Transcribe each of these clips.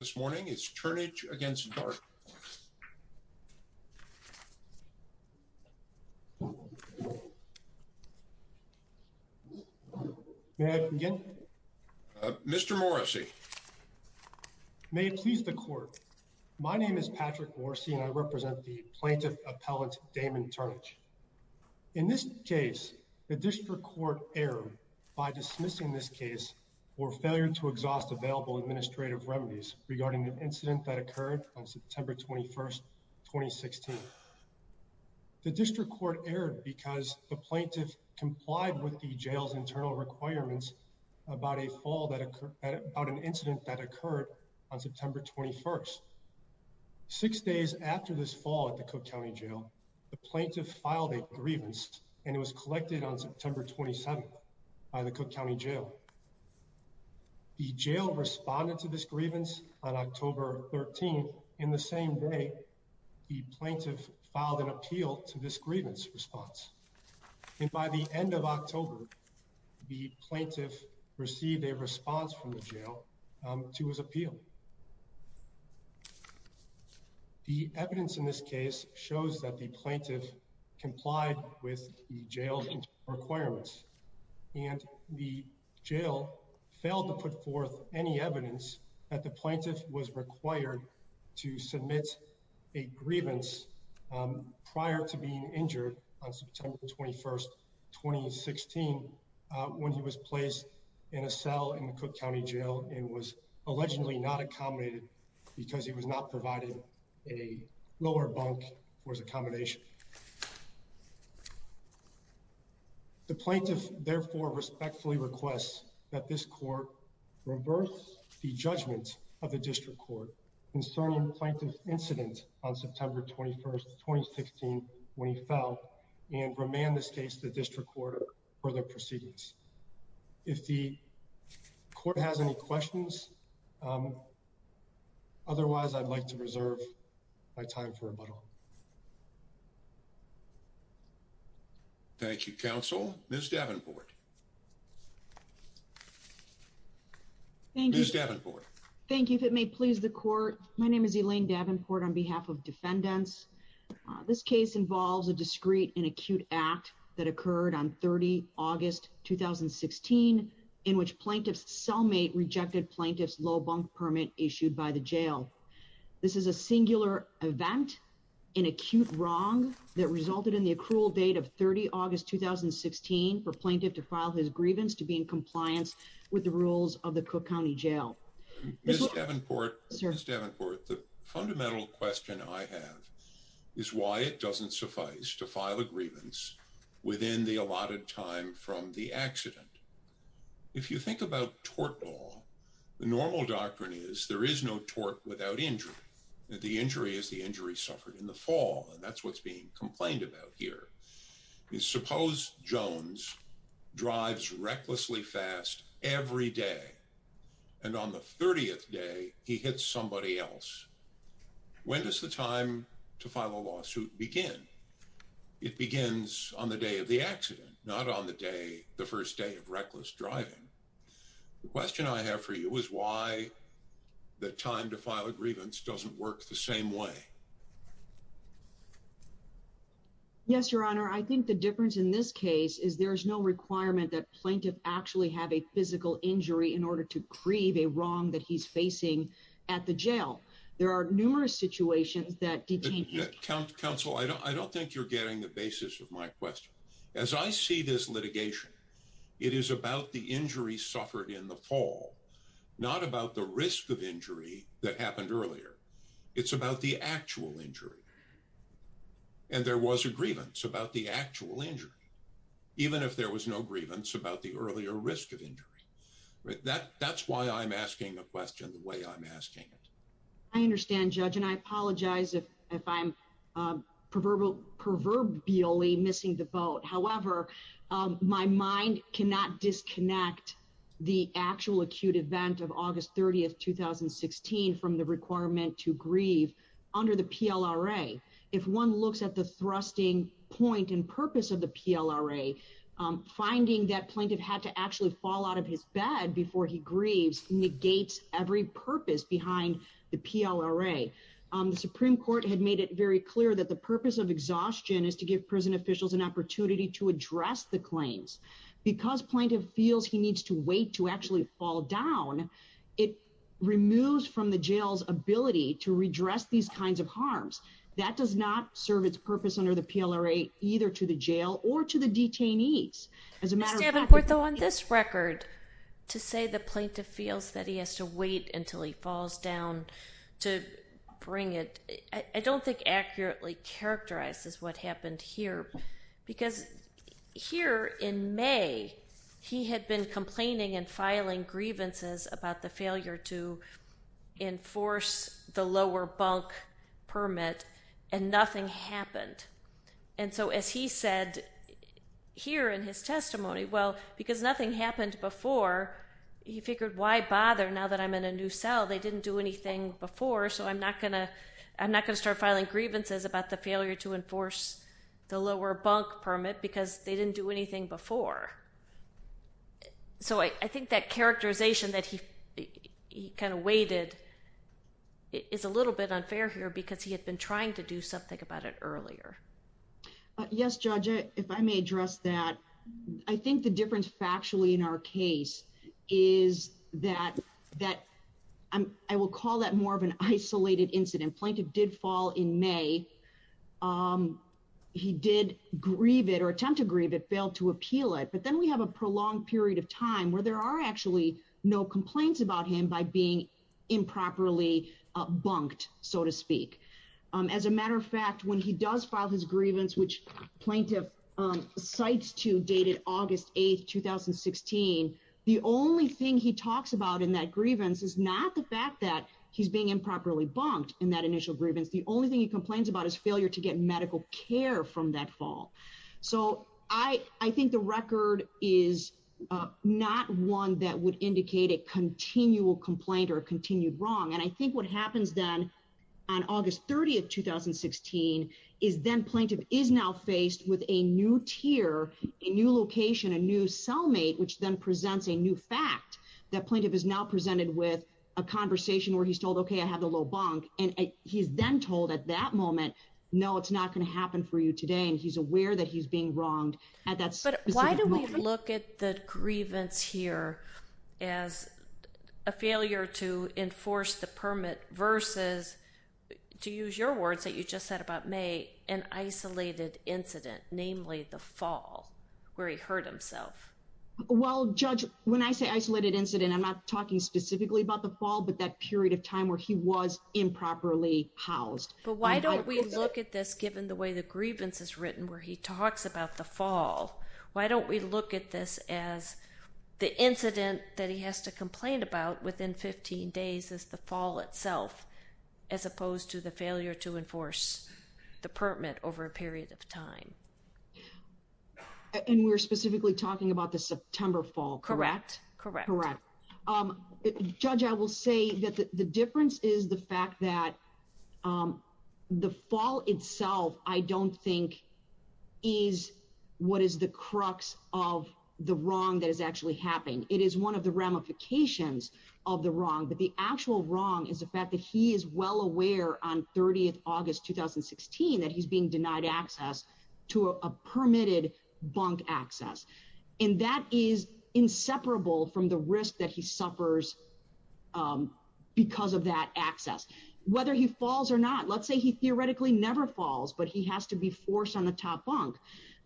this morning. It's Turnage against Dart. May I begin? Mr. Morrissey. May it please the court. My name is Patrick Morrissey and I represent the plaintiff appellate Damon Turnage. In this case, the district court erred by dismissing this case for failure to exhaust available administrative remedies regarding the incident that occurred on September 21st, 2016. The district court erred because the plaintiff complied with the jail's internal requirements about a fall that occurred about an incident that occurred on September 21st. Six days after this fall at the Cook County Jail, the plaintiff filed a grievance and it was collected on September 27th by the Cook County Jail. The jail responded to this grievance on October 13th. In the same day, the plaintiff filed an appeal to this grievance response. And by the end of October, the plaintiff received a response from the jail to his appeal. The evidence in this case shows that the plaintiff complied with the jail's internal requirements and the jail failed to put forth any evidence that the plaintiff was required to submit a grievance prior to being injured on September 21st, 2016 when he was placed in a cell in the Cook County Jail and was allegedly not accommodated because he was not providing a lower bunk for his accommodation. The plaintiff therefore respectfully requests that this court reverse the judgment of the district court concerning the plaintiff's incident on September 21st, 2016 when he fell and remand this case to the district court for further proceedings. If the court has any questions, otherwise, I'd like to reserve my time for rebuttal. Thank you, counsel. Ms. Davenport. Thank you, Ms. Davenport. Thank you. If it may please the court, my name is Elaine Davenport on behalf of defendants. This case involves a discreet and acute act that occurred on 30 August 2016 in which plaintiff's cellmate rejected plaintiff's low bunk permit issued by the jail. This is a singular event, an acute wrong that resulted in the accrual date of 30 August 2016 for plaintiff to file his grievance to be in compliance with the rules of the Cook County Jail. Ms. Davenport, the fundamental question I have is why it doesn't suffice to file a grievance within the allotted time from the accident. If you think about tort law, the normal doctrine is there is no tort without injury. The injury is the injury suffered in the fall and that's what's being complained about here. Suppose Jones drives recklessly fast every day and on the 30th day, he hits somebody else. When does the time to file a lawsuit begin? It begins on the day of the accident, not on the day, the first day of reckless driving. The question I have for you is why the time to file a grievance doesn't work the same way. Yes, your honor. I think the difference in this case is there's no requirement that plaintiff actually have a physical injury in order to grieve a wrong that he's facing at the jail. There are numerous situations that detain him. Counsel, I don't think you're getting the basis of my question. As I see this litigation, it is about the injury suffered in the fall, not about the risk of injury that happened earlier. It's about the actual injury and there was a grievance about the actual injury, even if there was no grievance about the earlier risk of injury. That's why I'm asking a question the way I'm asking it. I understand judge and I apologize if I'm proverbially missing the boat. However, my mind cannot disconnect the actual acute event of August 30th, 2016 from the requirement to grieve under the PLRA. If one looks at the thrusting point and purpose of the PLRA, finding that plaintiff had to actually fall out of his bed before he grieves negates every purpose behind the PLRA. The Supreme Court had made it very clear that the purpose of exhaustion is to give prison officials an opportunity to address the claims. Because plaintiff feels he needs to actually fall down, it removes from the jail's ability to redress these kinds of harms. That does not serve its purpose under the PLRA, either to the jail or to the detainees. As a matter of fact... Mr. Havencourt, on this record, to say the plaintiff feels that he has to wait until he falls down to bring it, I don't think accurately characterizes what happened here. Because here in May, he had been complaining and filing grievances about the failure to enforce the lower bunk permit and nothing happened. And so, as he said here in his testimony, well, because nothing happened before, he figured, why bother now that I'm in a new cell? They didn't do anything before, so I'm not going to start filing grievances about the failure to enforce the lower bunk because they didn't do anything before. So, I think that characterization that he kind of waited is a little bit unfair here because he had been trying to do something about it earlier. Yes, Judge, if I may address that. I think the difference factually in our case is that I will call that more of an isolated incident. Plaintiff did fall in May. He did grieve it or attempt to grieve it, failed to appeal it, but then we have a prolonged period of time where there are actually no complaints about him by being improperly bunked, so to speak. As a matter of fact, when he does file his grievance, which plaintiff cites to dated August 8, 2016, the only thing he talks about in that grievance is not the fact that he's being improperly bunked in that initial grievance. The only thing he complains about is failure to get medical care from that fall. So, I think the record is not one that would indicate a continual complaint or continued wrong, and I think what happens then on August 30, 2016, is then plaintiff is now faced with a new tier, a new location, a new cellmate, which then presents a new fact that plaintiff is now presented with a conversation where he's told, okay, I have the low bunk, and he's then told at that moment, no, it's not going to happen for you today, and he's aware that he's being wronged at that specific moment. But why do we look at the grievance here as a failure to enforce the permit versus, to use your words that you just said about May, an isolated incident, namely the fall where he hurt himself? Well, Judge, when I say isolated incident, I'm not talking specifically about the fall, but that period of time where he was improperly housed. But why don't we look at this, given the way the grievance is written, where he talks about the fall, why don't we look at this as the incident that he has to complain about within 15 days as the fall itself, as opposed to the failure to enforce the permit over a period of time? And we're specifically talking about the September fall, correct? Correct. Judge, I will say that the difference is the fact that the fall itself, I don't think, is what is the crux of the wrong that is actually happening. It is one of the ramifications of the wrong, but the actual wrong is the fact that he is well aware on 30th August 2016, that he's being denied access to a permitted bunk access. And that is inseparable from the risk that he suffers because of that access. Whether he falls or not, let's say he theoretically never falls, but he has to be forced on the top bunk.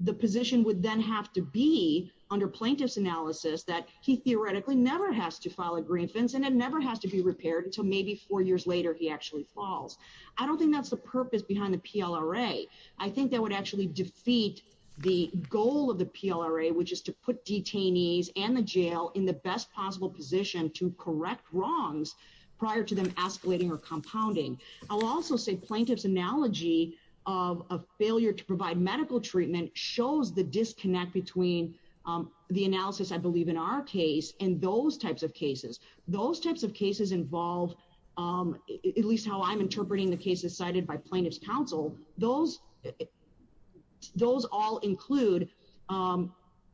The position would then have to be, under plaintiff's analysis, that he theoretically never has to file a grievance and it never has to be repaired until maybe four years later he actually falls. I don't think that's the purpose behind the PLRA. I think that would actually defeat the goal of the PLRA, which is to put detainees and the jail in the best possible position to correct wrongs prior to them escalating or compounding. I'll also say plaintiff's analogy of a failure to provide medical treatment shows the disconnect between the analysis, I believe, in our case and those types of cases. Those types of cases involve, at least how I'm interpreting this, those all include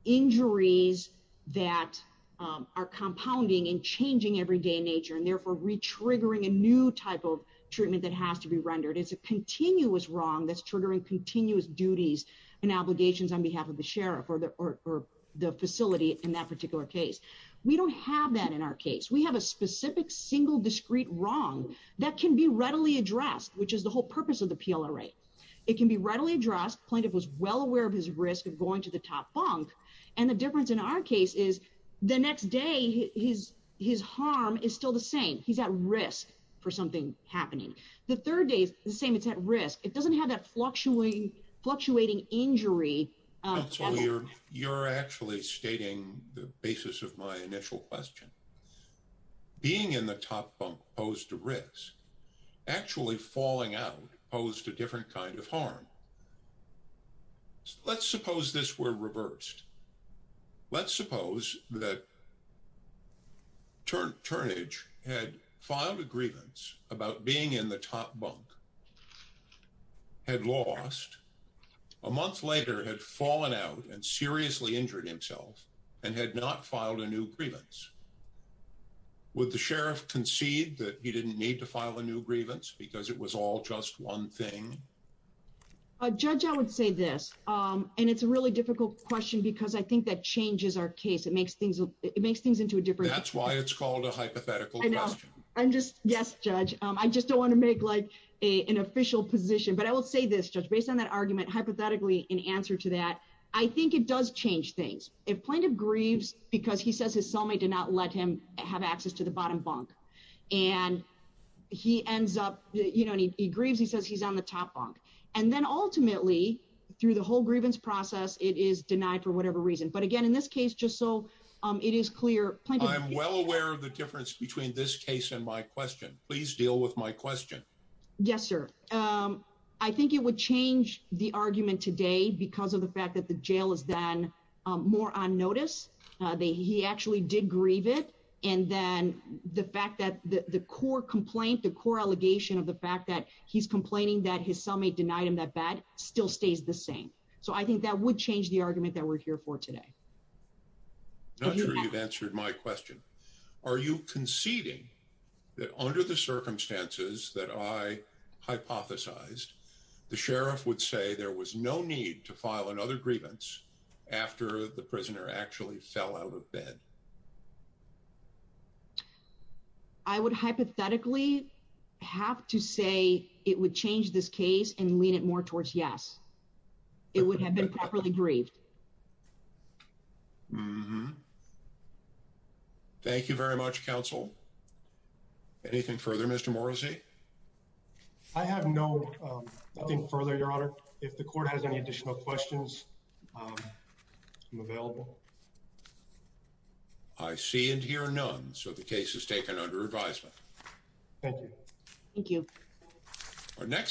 injuries that are compounding and changing everyday nature and therefore re-triggering a new type of treatment that has to be rendered. It's a continuous wrong that's triggering continuous duties and obligations on behalf of the sheriff or the facility in that particular case. We don't have that in our case. We have a specific single discrete wrong that can be readily addressed, which is the whole purpose of the PLRA. It can be readily addressed. Plaintiff was well aware of his risk of going to the top bunk and the difference in our case is the next day his harm is still the same. He's at risk for something happening. The third day is the same. It's at risk. It doesn't have that fluctuating injury. You're actually stating the basis of my initial question. Being in the top bunk posed a risk. Actually falling out posed a different kind of harm. Let's suppose this were reversed. Let's suppose that Turnage had filed a grievance about being in the top bunk, had lost, a month later had fallen out and seriously injured himself and had not filed a new grievance. Would the sheriff concede that he didn't need to file a new thing? I would say this and it's a really difficult question because I think that changes our case. It makes things it makes things into a different. That's why it's called a hypothetical question. I'm just yes judge. I just don't want to make like an official position, but I will say this judge based on that argument hypothetically in answer to that. I think it does change things if plaintiff grieves because he says his cellmate did not let him have access to the bottom bunk and he ends up, you know, he grieves. He says he's on the top bunk and then ultimately through the whole grievance process. It is denied for whatever reason. But again in this case just so it is clear. I'm well aware of the difference between this case and my question. Please deal with my question. Yes, sir. I think it would change the argument today because of the fact that the jail is then more on notice. He actually did grieve it and then the fact that the core complaint the core allegation of the fact that he's complaining that his cellmate denied him that bad still stays the same. So I think that would change the argument that we're here for today. Not sure you've answered my question. Are you conceding that under the circumstances that I hypothesized the sheriff would say there was no need to file another grievance after the prisoner actually fell out of bed? I would hypothetically have to say it would change this case and lean it more towards. Yes, it would have been properly grieved. Thank you very much counsel. Anything further? Mr. Morrissey. I have no further your honor. If the court has any additional questions available. I see and hear none. So the case is taken under advisement. Thank you. Thank you. Our next.